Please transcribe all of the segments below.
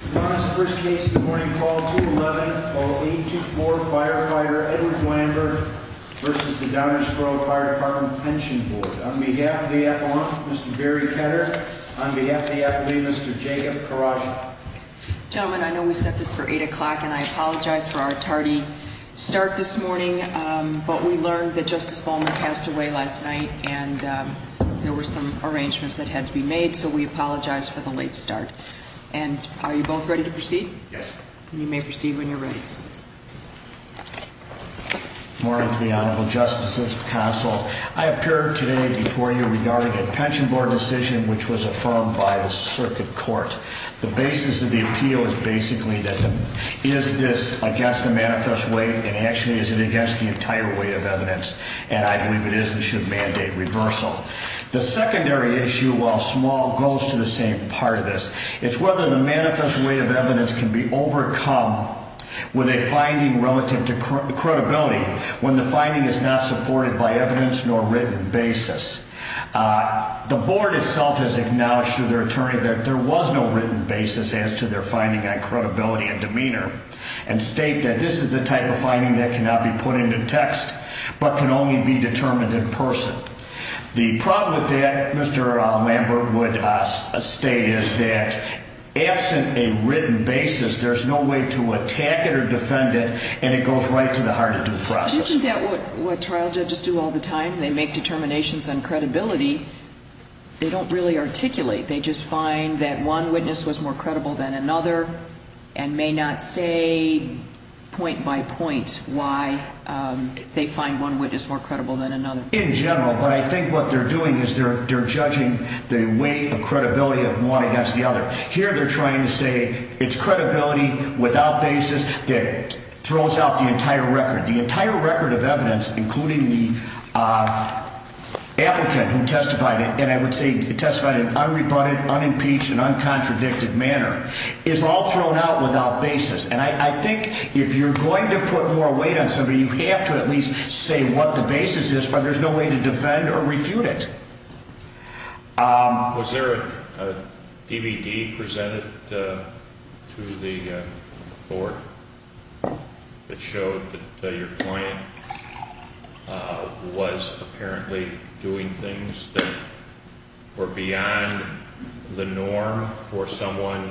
On behalf of the FOMC, Mr. Barry Ketter. On behalf of the FLE, Mr. Jacob Karagian. Gentlemen, I know we set this for 8 o'clock, and I apologize for our tardy start this morning, but we learned that Justice Ballmer passed away last night and there were some arrangements that had to be made, so we apologize for the late start. And are you both ready to proceed? Yes. You may proceed when you're ready. Good morning to the Honorable Justices, Counsel. I appear today before you regarding a Pension Board decision which was affirmed by the Circuit Court. The basis of the appeal is basically that is this against the manifest way, and actually is it against the entire way of evidence, and I believe it is and should mandate reversal. The secondary issue, while small, goes to the same part of this. It's whether the manifest way of evidence can be overcome with a finding relative to credibility when the finding is not supported by evidence nor written basis. The Board itself has acknowledged to their attorney that there was no written basis as to their finding on credibility and demeanor, and state that this is the type of finding that cannot be put into text but can only be determined in person. The problem with that, Mr. Lambert would state, is that absent a written basis, there's no way to attack it or defend it, and it goes right to the heart of due process. Isn't that what trial judges do all the time? They make determinations on credibility. They don't really articulate. They just find that one witness was more credible than another and may not say point by point why they find one witness more credible than another. That's what they do in general, but I think what they're doing is they're judging the weight of credibility of one against the other. Here they're trying to say it's credibility without basis that throws out the entire record. The entire record of evidence, including the applicant who testified, and I would say testified in an unrebutted, unimpeached, and uncontradicted manner, is all thrown out without basis. And I think if you're going to put more weight on somebody, you have to at least say what the basis is, but there's no way to defend or refute it. Was there a DVD presented to the court that showed that your client was apparently doing things that were beyond the norm for someone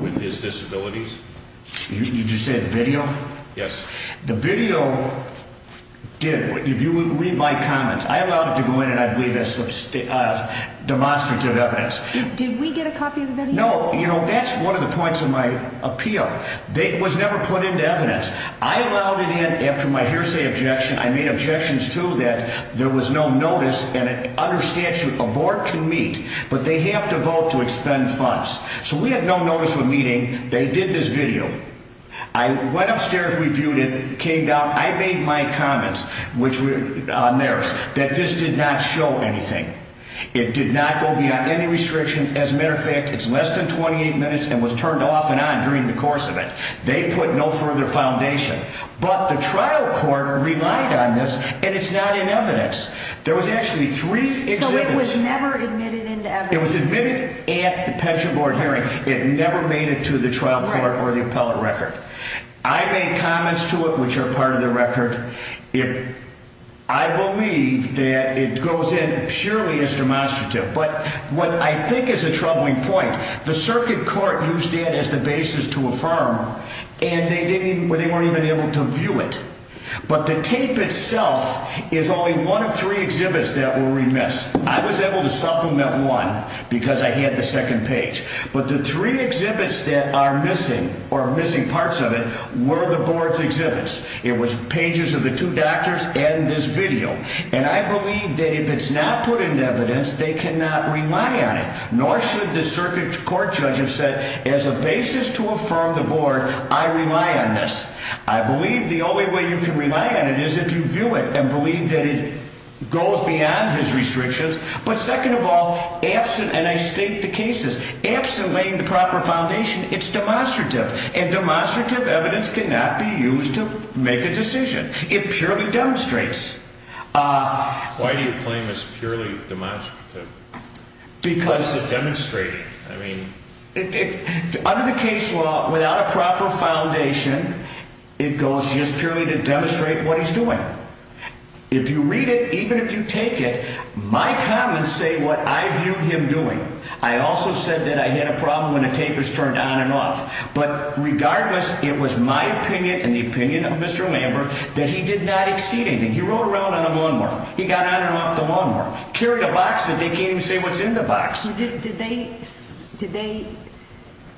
with his disabilities? Did you say the video? Yes. The video did. Read my comments. I allowed it to go in, and I believe that's demonstrative evidence. Did we get a copy of the video? I went upstairs, reviewed it, came down. I made my comments on theirs that this did not show anything. It did not go beyond any restrictions. As a matter of fact, it's less than 28 minutes and was turned off and on during the course of it. They put no further foundation, but the trial court relied on this, and it's not in evidence. There was actually three exhibits. It was admitted at the pension board hearing. It never made it to the trial court or the appellate record. I made comments to it, which are part of the record. I believe that it goes in purely as demonstrative. But what I think is a troubling point, the circuit court used it as the basis to affirm, and they weren't even able to view it. But the tape itself is only one of three exhibits that were remiss. I was able to supplement one because I had the second page. But the three exhibits that are missing, or missing parts of it, were the board's exhibits. It was pages of the two doctors and this video. And I believe that if it's not put into evidence, they cannot rely on it, nor should the circuit court judge have said, as a basis to affirm the board, I rely on this. I believe the only way you can rely on it is if you view it and believe that it goes beyond his restrictions. But second of all, absent, and I state the cases, absent laying the proper foundation, it's demonstrative. And demonstrative evidence cannot be used to make a decision. It purely demonstrates. Why do you claim it's purely demonstrative? Because... What does it demonstrate? I mean... Under the case law, without a proper foundation, it goes just purely to demonstrate what he's doing. If you read it, even if you take it, my comments say what I viewed him doing. I also said that I had a problem when the tapers turned on and off. But regardless, it was my opinion and the opinion of Mr. Lambert that he did not exceed anything. He rode around on a lawnmower. He got on and off the lawnmower. Carried a box that they can't even say what's in the box. Did they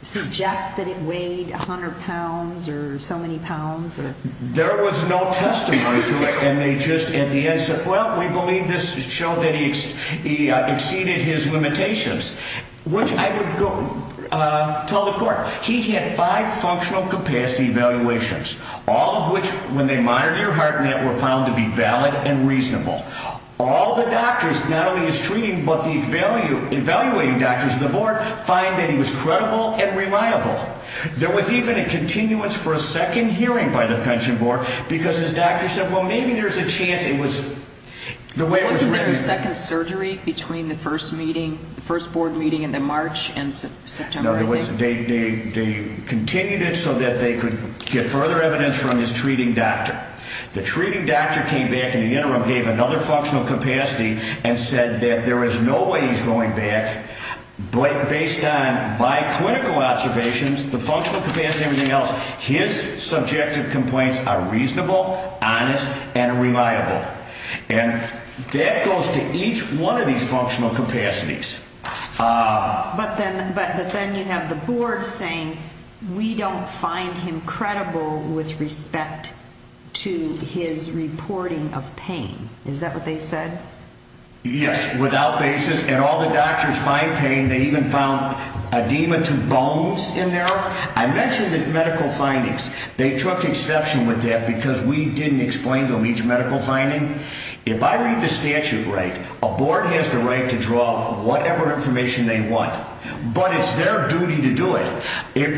suggest that it weighed 100 pounds or so many pounds? There was no testimony to it. And they just, at the end, said, well, we believe this showed that he exceeded his limitations. Which I would tell the court, he had five functional capacity evaluations. All of which, when they monitor your heart net, were found to be valid and reasonable. All the doctors, not only his treating but the evaluating doctors on the board, find that he was credible and reliable. There was even a continuance for a second hearing by the pension board because his doctor said, well, maybe there's a chance it was... Wasn't there a second surgery between the first meeting, the first board meeting in March and September? No, there wasn't. They continued it so that they could get further evidence from his treating doctor. The treating doctor came back in the interim, gave another functional capacity and said that there is no way he's going back. But based on my clinical observations, the functional capacity and everything else, his subjective complaints are reasonable, honest, and reliable. And that goes to each one of these functional capacities. But then you have the board saying, we don't find him credible with respect to his reporting of pain. Is that what they said? Yes, without basis. And all the doctors find pain. They even found edema to bones in there. I mentioned the medical findings. They took exception with that because we didn't explain to them each medical finding. If I read the statute right, a board has the right to draw whatever information they want, but it's their duty to do it.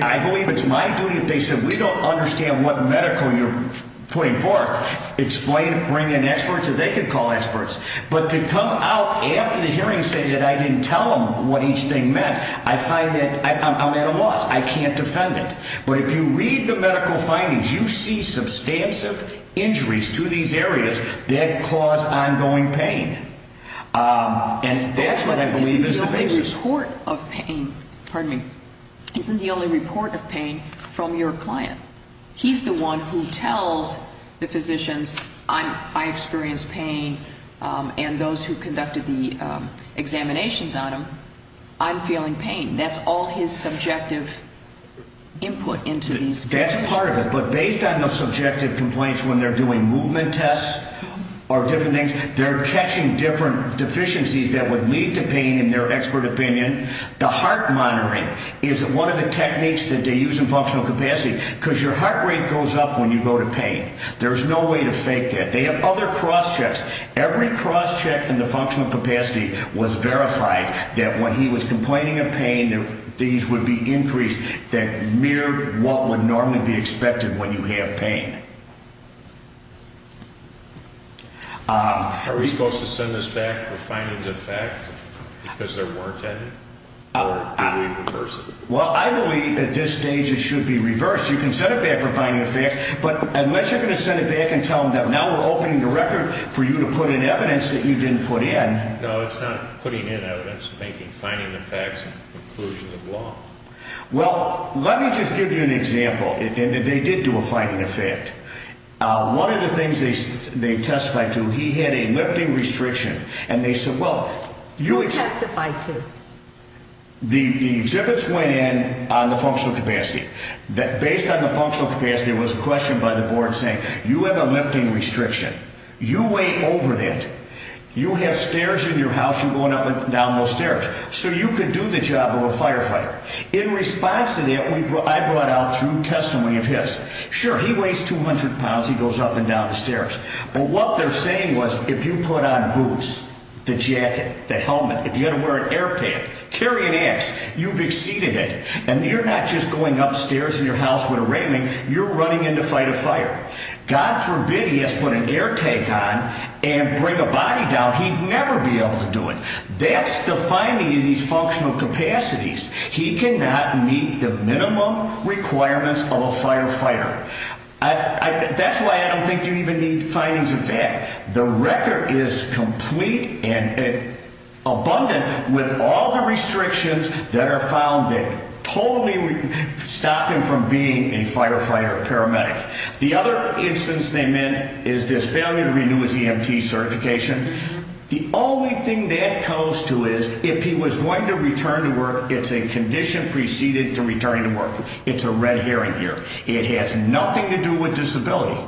I believe it's my duty if they said, we don't understand what medical you're putting forth, explain, bring in experts that they could call experts. But to come out after the hearing and say that I didn't tell them what each thing meant, I find that I'm at a loss. I can't defend it. But if you read the medical findings, you see substantive injuries to these areas that cause ongoing pain. And that's what I believe is the basis. But isn't the only report of pain, pardon me, isn't the only report of pain from your client? He's the one who tells the physicians, I experience pain, and those who conducted the examinations on him, I'm feeling pain. That's all his subjective input into these patients. That's part of it, but based on the subjective complaints when they're doing movement tests or different things, they're catching different deficiencies that would lead to pain in their expert opinion. The heart monitoring is one of the techniques that they use in functional capacity because your heart rate goes up when you go to pain. There's no way to fake that. They have other cross checks. Every cross check in the functional capacity was verified that when he was complaining of pain, these would be increased that mirrored what would normally be expected when you have pain. Are we supposed to send this back for findings of fact because there weren't any or do we reverse it? Well, I believe at this stage it should be reversed. You can send it back for findings of fact, but unless you're going to send it back and tell them that now we're opening the record for you to put in evidence that you didn't put in. No, it's not putting in evidence. It's finding the facts and conclusion of law. Well, let me just give you an example. They did do a finding of fact. One of the things they testified to, he had a lifting restriction. Who testified to? The exhibits went in on the functional capacity. Based on the functional capacity, there was a question by the board saying you have a lifting restriction. You weigh over that. You have stairs in your house. You're going up and down those stairs. So you could do the job of a firefighter. In response to that, I brought out through testimony of his. Sure, he weighs 200 pounds. He goes up and down the stairs. But what they're saying was if you put on boots, the jacket, the helmet, if you had to wear an air pack, carry an axe, you've exceeded it. And you're not just going upstairs in your house with a railing. You're running in to fight a fire. God forbid he has to put an air tank on and bring a body down. He'd never be able to do it. That's the finding in these functional capacities. He cannot meet the minimum requirements of a firefighter. That's why I don't think you even need findings of fact. The record is complete and abundant with all the restrictions that are found that totally stop him from being a firefighter paramedic. The other instance they meant is this failure to renew his EMT certification. The only thing that goes to is if he was going to return to work, it's a condition preceded to returning to work. It's a red herring here. It has nothing to do with disability.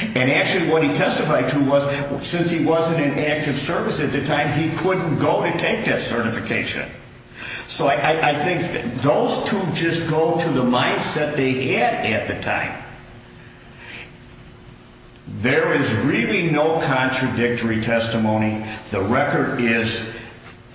And actually what he testified to was since he wasn't in active service at the time, he couldn't go to take that certification. So I think those two just go to the mindset they had at the time. There is really no contradictory testimony. The record is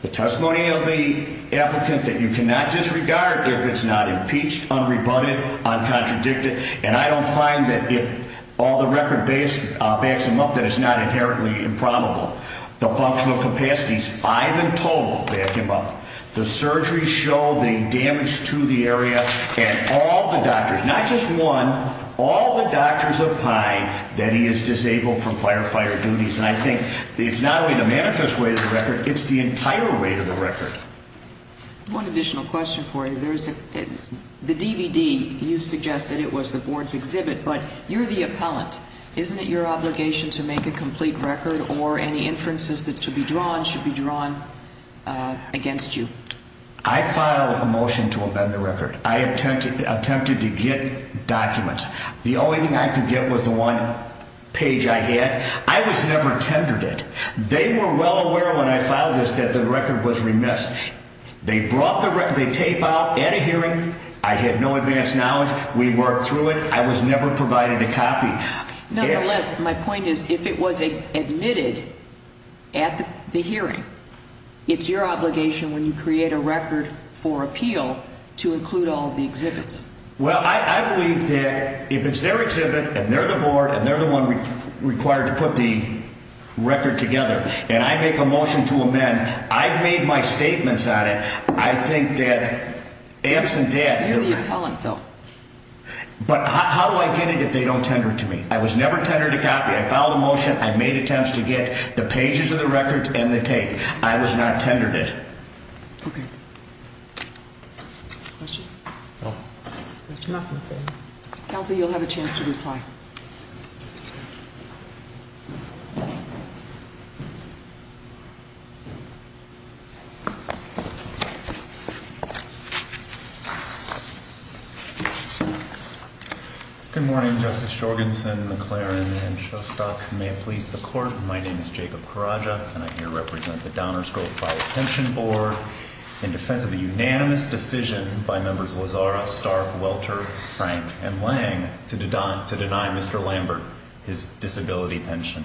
the testimony of the applicant that you cannot disregard if it's not impeached, unrebutted, uncontradicted. And I don't find that if all the record backs him up, that it's not inherently improbable. The functional capacities, five in total back him up. The surgeries show the damage to the area. And all the doctors, not just one, all the doctors opine that he is disabled from firefighter duties. And I think it's not only the manifest way of the record, it's the entire way of the record. One additional question for you. The DVD, you suggested it was the board's exhibit, but you're the appellant. Isn't it your obligation to make a complete record or any inferences that should be drawn against you? I filed a motion to amend the record. I attempted to get documents. The only thing I could get was the one page I had. I was never tendered it. They were well aware when I filed this that the record was remiss. They brought the tape out at a hearing. I had no advanced knowledge. We worked through it. I was never provided a copy. Nonetheless, my point is if it was admitted at the hearing, it's your obligation when you create a record for appeal to include all the exhibits. Well, I believe that if it's their exhibit and they're the board and they're the one required to put the record together and I make a motion to amend, I've made my statements on it. I think that absent that. You're the appellant, though. But how do I get it if they don't tender it to me? I was never tendered a copy. I filed a motion. I made attempts to get the pages of the record and the tape. I was not tendered it. Okay. Question? There's nothing there. Counsel, you'll have a chance to reply. Good morning, Justice Jorgensen, McLaren, and Shostock. May it please the court, my name is Jacob Corraja. And I here represent the Downers Grove Fire Pension Board in defense of the unanimous decision by members Lozara, Stark, Welter, Frank, and Lang to deny Mr. Lambert his disability pension.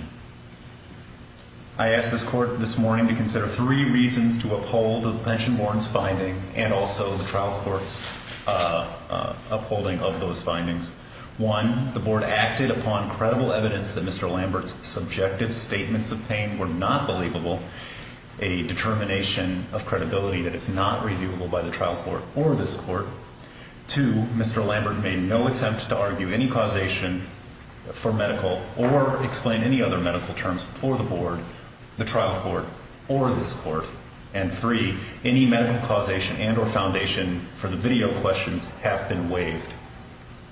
I ask this court this morning to consider three reasons to uphold the pension board's finding and also the trial court's upholding of those findings. One, the board acted upon credible evidence that Mr. Lambert's subjective statements of pain were not believable, a determination of credibility that it's not reviewable by the trial court or this court. Two, Mr. Lambert made no attempt to argue any causation for medical or explain any other medical terms for the board, the trial court, or this court. And three, any medical causation and or foundation for the video questions have been waived.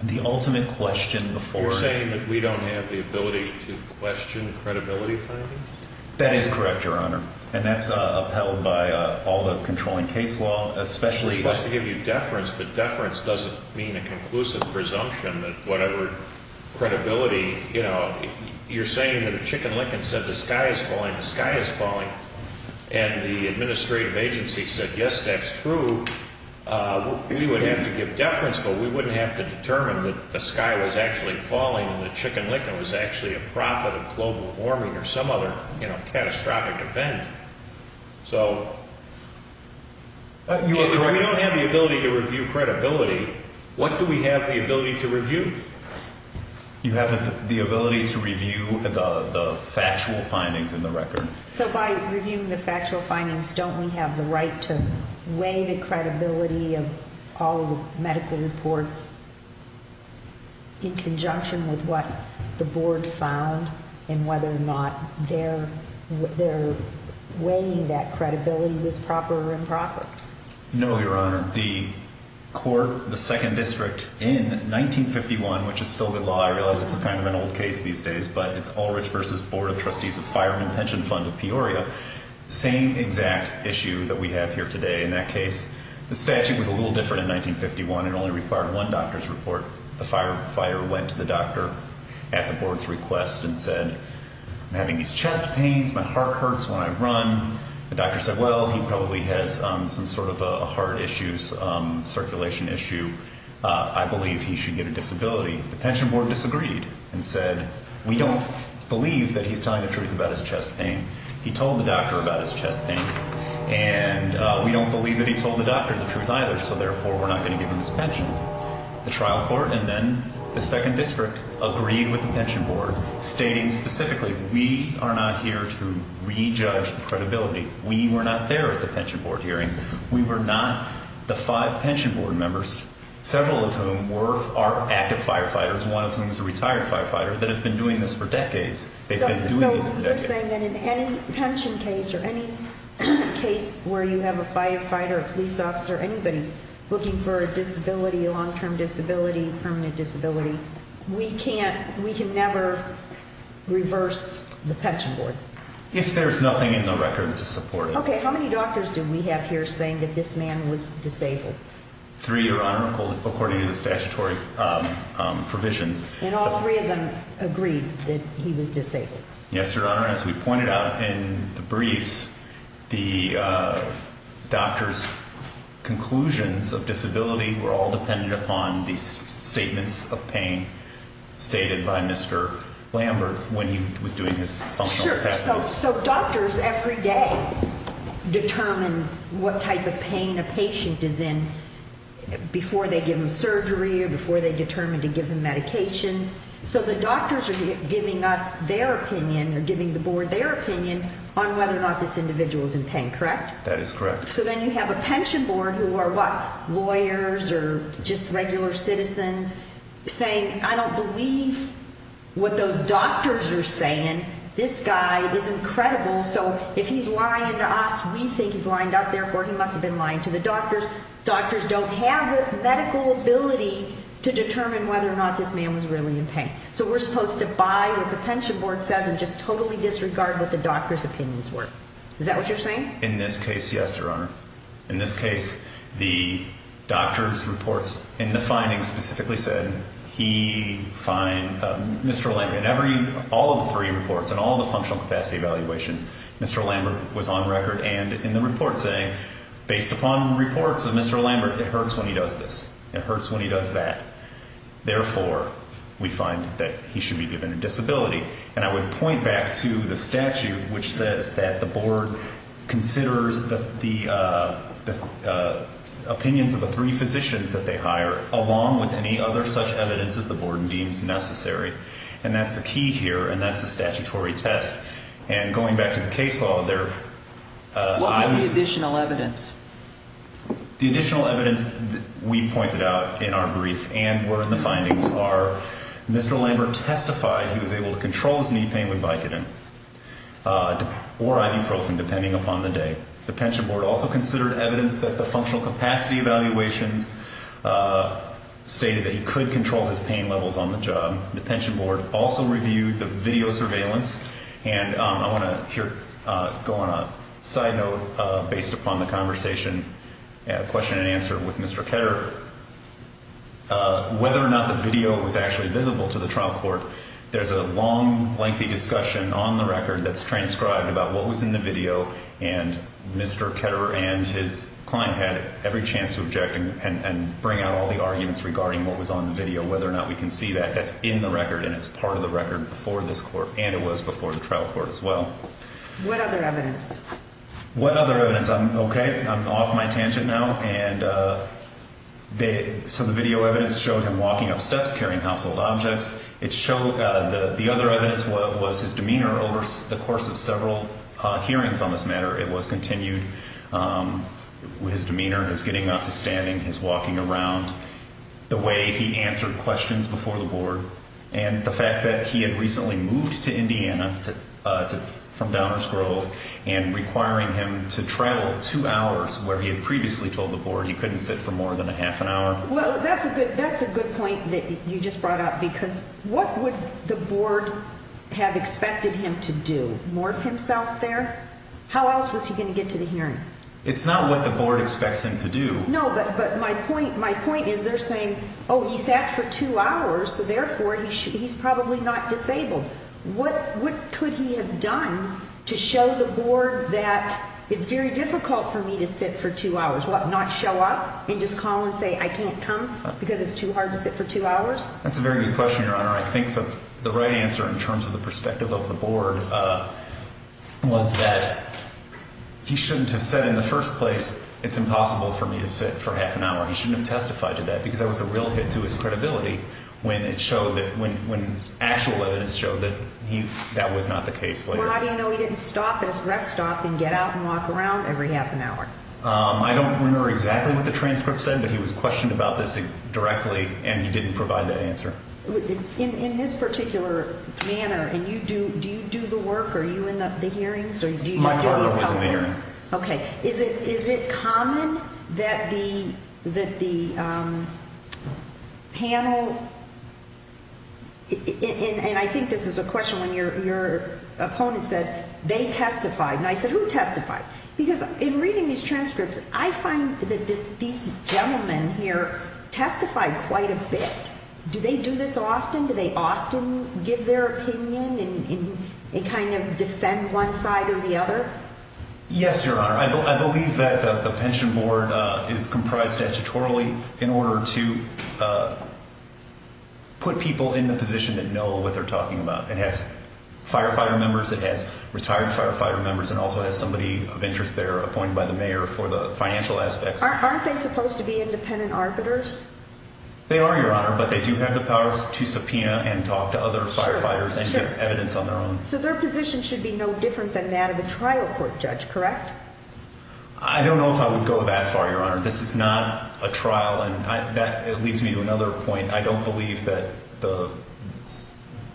The ultimate question before you. You're saying that we don't have the ability to question credibility findings? That is correct, Your Honor. And that's upheld by all the controlling case law, especially. Supposed to give you deference, but deference doesn't mean a conclusive presumption that whatever credibility, you know, you're saying that a chicken licking said the sky is falling, the sky is falling. And the administrative agency said, yes, that's true. We would have to give deference, but we wouldn't have to determine that the sky was actually falling and the chicken licking was actually a profit of global warming or some other, you know, catastrophic event. So if we don't have the ability to review credibility, what do we have the ability to review? You have the ability to review the factual findings in the record. So by reviewing the factual findings, don't we have the right to weigh the credibility of all the medical reports? In conjunction with what the board found and whether or not they're they're weighing that credibility was proper and proper. No, Your Honor. The court, the second district in 1951, which is still good law. I realize it's a kind of an old case these days, but it's Ulrich versus Board of Trustees of Fireman Pension Fund of Peoria. Same exact issue that we have here today. In that case, the statute was a little different in 1951 and only required one doctor's report. The fire fire went to the doctor at the board's request and said, I'm having these chest pains. My heart hurts when I run. The doctor said, well, he probably has some sort of a heart issues, circulation issue. I believe he should get a disability. The pension board disagreed and said, we don't believe that he's telling the truth about his chest pain. He told the doctor about his chest pain and we don't believe that he told the doctor the truth either. So therefore, we're not going to give him his pension. The trial court and then the second district agreed with the pension board, stating specifically, we are not here to rejudge the credibility. We were not there at the pension board hearing. We were not the five pension board members, several of whom were active firefighters, one of whom is a retired firefighter, that have been doing this for decades. So you're saying that in any pension case or any case where you have a firefighter, a police officer, anybody looking for a disability, a long term disability, permanent disability, we can never reverse the pension board? If there's nothing in the record to support it. Okay, how many doctors do we have here saying that this man was disabled? Three, Your Honor, according to the statutory provisions. And all three of them agreed that he was disabled? Yes, Your Honor. And as we pointed out in the briefs, the doctor's conclusions of disability were all dependent upon these statements of pain stated by Mr. Lambert when he was doing his functional test. Sure. So doctors every day determine what type of pain a patient is in before they give him surgery or before they determine to give him medications. So the doctors are giving us their opinion or giving the board their opinion on whether or not this individual is in pain, correct? That is correct. So then you have a pension board who are what, lawyers or just regular citizens saying, I don't believe what those doctors are saying. This guy is incredible. So if he's lying to us, we think he's lying to us. Therefore, he must have been lying to the doctors. Doctors don't have the medical ability to determine whether or not this man was really in pain. So we're supposed to buy what the pension board says and just totally disregard what the doctor's opinions were. Is that what you're saying? In this case, yes, Your Honor. In this case, the doctor's reports and the findings specifically said he, Mr. Lambert, in every, all of the three reports and all the functional capacity evaluations, Mr. Lambert was on record and in the report saying, based upon reports of Mr. Lambert, it hurts when he does this. It hurts when he does that. Therefore, we find that he should be given a disability. And I would point back to the statute, which says that the board considers the opinions of the three physicians that they hire, along with any other such evidence as the board deems necessary. And that's the key here. And that's the statutory test. And going back to the case law, there is additional evidence. The additional evidence we pointed out in our brief and were in the findings are Mr. Lambert testified he was able to control his knee pain with Vicodin or ibuprofen, depending upon the day. The pension board also considered evidence that the functional capacity evaluations stated that he could control his pain levels on the job. The pension board also reviewed the video surveillance. And I want to go on a side note based upon the conversation, question and answer with Mr. Ketterer. Whether or not the video was actually visible to the trial court, there's a long, lengthy discussion on the record that's transcribed about what was in the video. And Mr. Ketterer and his client had every chance to object and bring out all the arguments regarding what was on the video, whether or not we can see that that's in the record and it's part of the record before this court. And it was before the trial court as well. What other evidence? What other evidence? I'm OK. I'm off my tangent now. And so the video evidence showed him walking up steps carrying household objects. It showed the other evidence was his demeanor over the course of several hearings on this matter. It was continued with his demeanor, his getting up, his standing, his walking around, the way he answered questions before the board, and the fact that he had recently moved to Indiana from Downers Grove and requiring him to travel two hours where he had previously told the board he couldn't sit for more than a half an hour. Well, that's a good point that you just brought up because what would the board have expected him to do, morph himself there? How else was he going to get to the hearing? It's not what the board expects him to do. No, but my point is they're saying, oh, he sat for two hours, so therefore he's probably not disabled. What could he have done to show the board that it's very difficult for me to sit for two hours? What, not show up and just call and say I can't come because it's too hard to sit for two hours? That's a very good question, Your Honor. I think the right answer in terms of the perspective of the board was that he shouldn't have said in the first place it's impossible for me to sit for half an hour. He shouldn't have testified to that because that was a real hit to his credibility when actual evidence showed that that was not the case. Well, how do you know he didn't stop at his rest stop and get out and walk around every half an hour? I don't remember exactly what the transcript said, but he was questioned about this directly, and he didn't provide that answer. In this particular manner, do you do the work? Are you in the hearings? My partner was in the hearing. Okay. Is it common that the panel, and I think this is a question when your opponent said they testified, and I said who testified? Because in reading these transcripts, I find that these gentlemen here testify quite a bit. Do they do this often? Do they often give their opinion and kind of defend one side or the other? Yes, Your Honor. I believe that the pension board is comprised statutorily in order to put people in the position that know what they're talking about. It has firefighter members. It has retired firefighter members and also has somebody of interest there appointed by the mayor for the financial aspects. Aren't they supposed to be independent arbiters? They are, Your Honor, but they do have the powers to subpoena and talk to other firefighters and get evidence on their own. So their position should be no different than that of a trial court judge, correct? I don't know if I would go that far, Your Honor. This is not a trial, and that leads me to another point. I don't believe that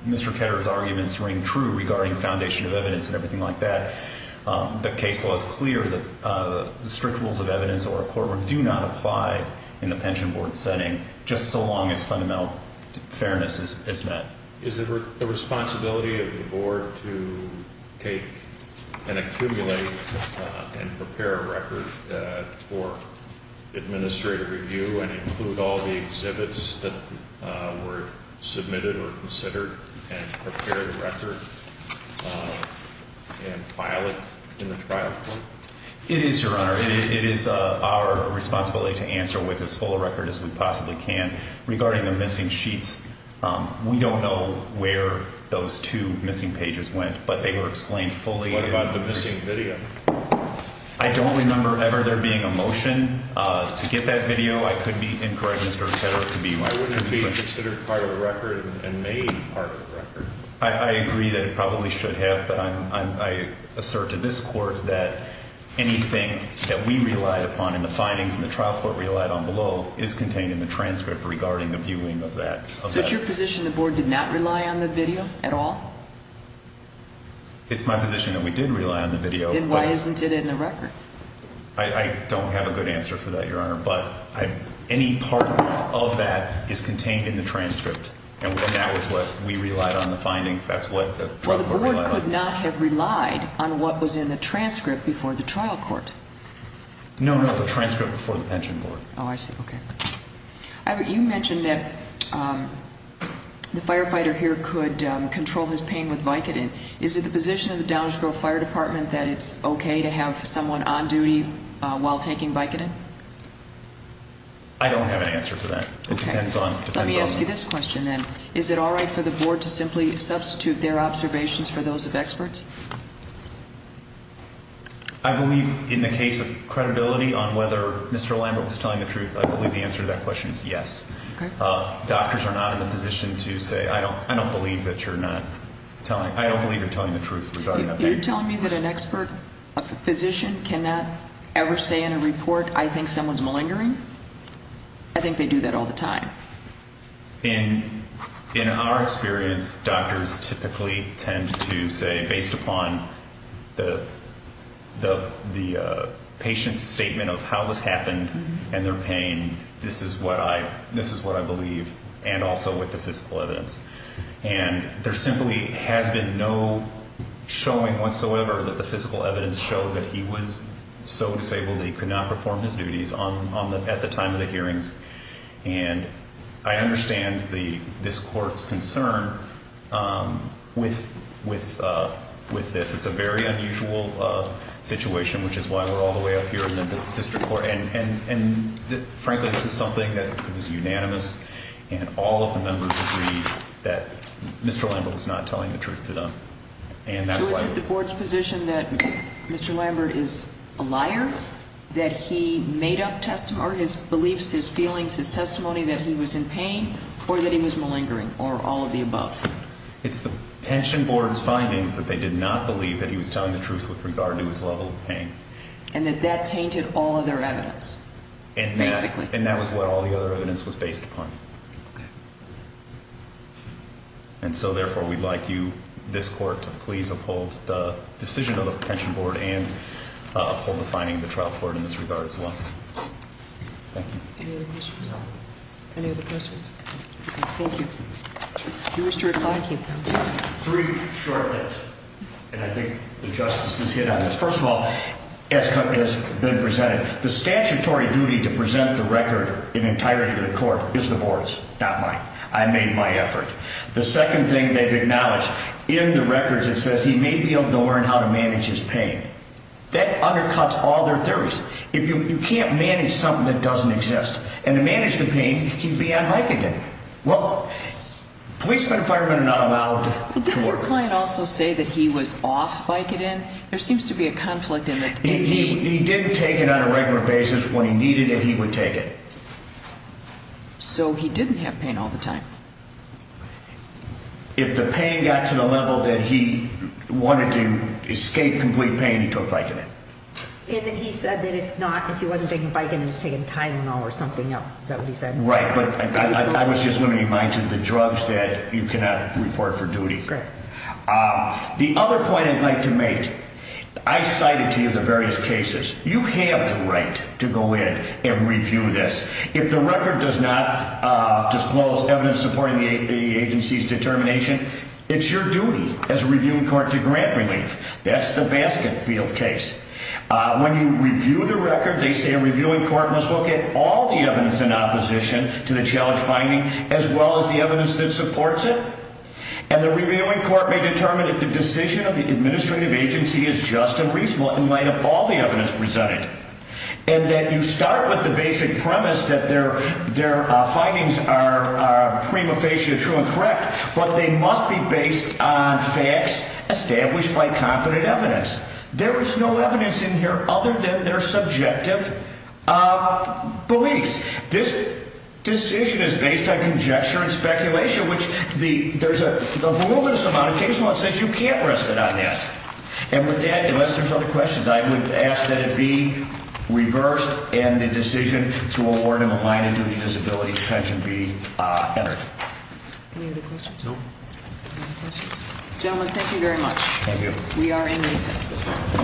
Mr. Ketterer's arguments ring true regarding foundation of evidence and everything like that. The case law is clear that the strict rules of evidence or a court would do not apply in a pension board setting just so long as fundamental fairness is met. Is it the responsibility of the board to take and accumulate and prepare a record for administrative review and include all the exhibits that were submitted or considered and prepare the record and file it in the trial court? It is, Your Honor. It is our responsibility to answer with as full a record as we possibly can. Regarding the missing sheets, we don't know where those two missing pages went, but they were explained fully. What about the missing video? I don't remember ever there being a motion to get that video. I could be incorrect, Mr. Ketterer. Why wouldn't it be considered part of the record and made part of the record? I agree that it probably should have, but I assert to this court that anything that we relied upon in the findings and the trial court relied on below is contained in the transcript regarding the viewing of that. So it's your position the board did not rely on the video at all? It's my position that we did rely on the video. Then why isn't it in the record? I don't have a good answer for that, Your Honor, but any part of that is contained in the transcript, and that was what we relied on the findings. That's what the trial court relied on. Well, the board could not have relied on what was in the transcript before the trial court. No, no, the transcript before the pension board. Oh, I see. Okay. You mentioned that the firefighter here could control his pain with Vicodin. Is it the position of the Downsville Fire Department that it's okay to have someone on duty while taking Vicodin? I don't have an answer for that. Okay. It depends on the… Let me ask you this question, then. Is it all right for the board to simply substitute their observations for those of experts? I believe in the case of credibility on whether Mr. Lambert was telling the truth, I believe the answer to that question is yes. Okay. Doctors are not in a position to say, I don't believe that you're not telling, I don't believe you're telling the truth regarding that patient. You're telling me that an expert, a physician, cannot ever say in a report, I think someone's malingering? I think they do that all the time. In our experience, doctors typically tend to say, based upon the patient's statement of how this happened and their pain, this is what I believe, and also with the physical evidence. And there simply has been no showing whatsoever that the physical evidence showed that he was so disabled that he could not perform his duties at the time of the hearings. And I understand this court's concern with this. It's a very unusual situation, which is why we're all the way up here in the district court. And, frankly, this is something that is unanimous, and all of the members agreed that Mr. Lambert was not telling the truth to them. So is it the board's position that Mr. Lambert is a liar, that he made up his beliefs, his feelings, his testimony that he was in pain, or that he was malingering, or all of the above? It's the pension board's findings that they did not believe that he was telling the truth with regard to his level of pain. And that that tainted all of their evidence, basically. And that was what all the other evidence was based upon. Okay. And so, therefore, we'd like you, this court, to please uphold the decision of the pension board and uphold the finding of the trial court in this regard as well. Thank you. Any other questions? No. Any other questions? Okay. Thank you. Do you wish to reply? Three short bits. And I think the justices hit on this. First of all, as has been presented, the statutory duty to present the record in entirety to the court is the board's, not mine. I made my effort. The second thing they've acknowledged, in the records it says he may be able to learn how to manage his pain. That undercuts all their theories. You can't manage something that doesn't exist. And to manage the pain, he'd be on Vicodin. Well, policemen and firemen are not allowed to work. But didn't your client also say that he was off Vicodin? There seems to be a conflict in that. He did take it on a regular basis when he needed it, he would take it. So he didn't have pain all the time. If the pain got to the level that he wanted to escape complete pain, he took Vicodin. And then he said that if not, if he wasn't taking Vicodin, he was taking Tylenol or something else. Is that what he said? Right. But I was just going to remind you of the drugs that you cannot report for duty. Great. The other point I'd like to make, I cited to you the various cases. You have the right to go in and review this. If the record does not disclose evidence supporting the agency's determination, it's your duty as a reviewing court to grant relief. That's the basket field case. When you review the record, they say a reviewing court must look at all the evidence in opposition to the challenge finding, as well as the evidence that supports it. And the reviewing court may determine that the decision of the administrative agency is just and reasonable in light of all the evidence presented. And that you start with the basic premise that their findings are prima facie true and correct, but they must be based on facts established by competent evidence. There is no evidence in here other than their subjective beliefs. This decision is based on conjecture and speculation, which there's a voluminous amount of case law that says you can't rest it on that. And with that, unless there's other questions, I would ask that it be reversed and the decision to award him a minor duty disability detention be entered. Any other questions? No. Gentlemen, thank you very much. Thank you. We are in recess.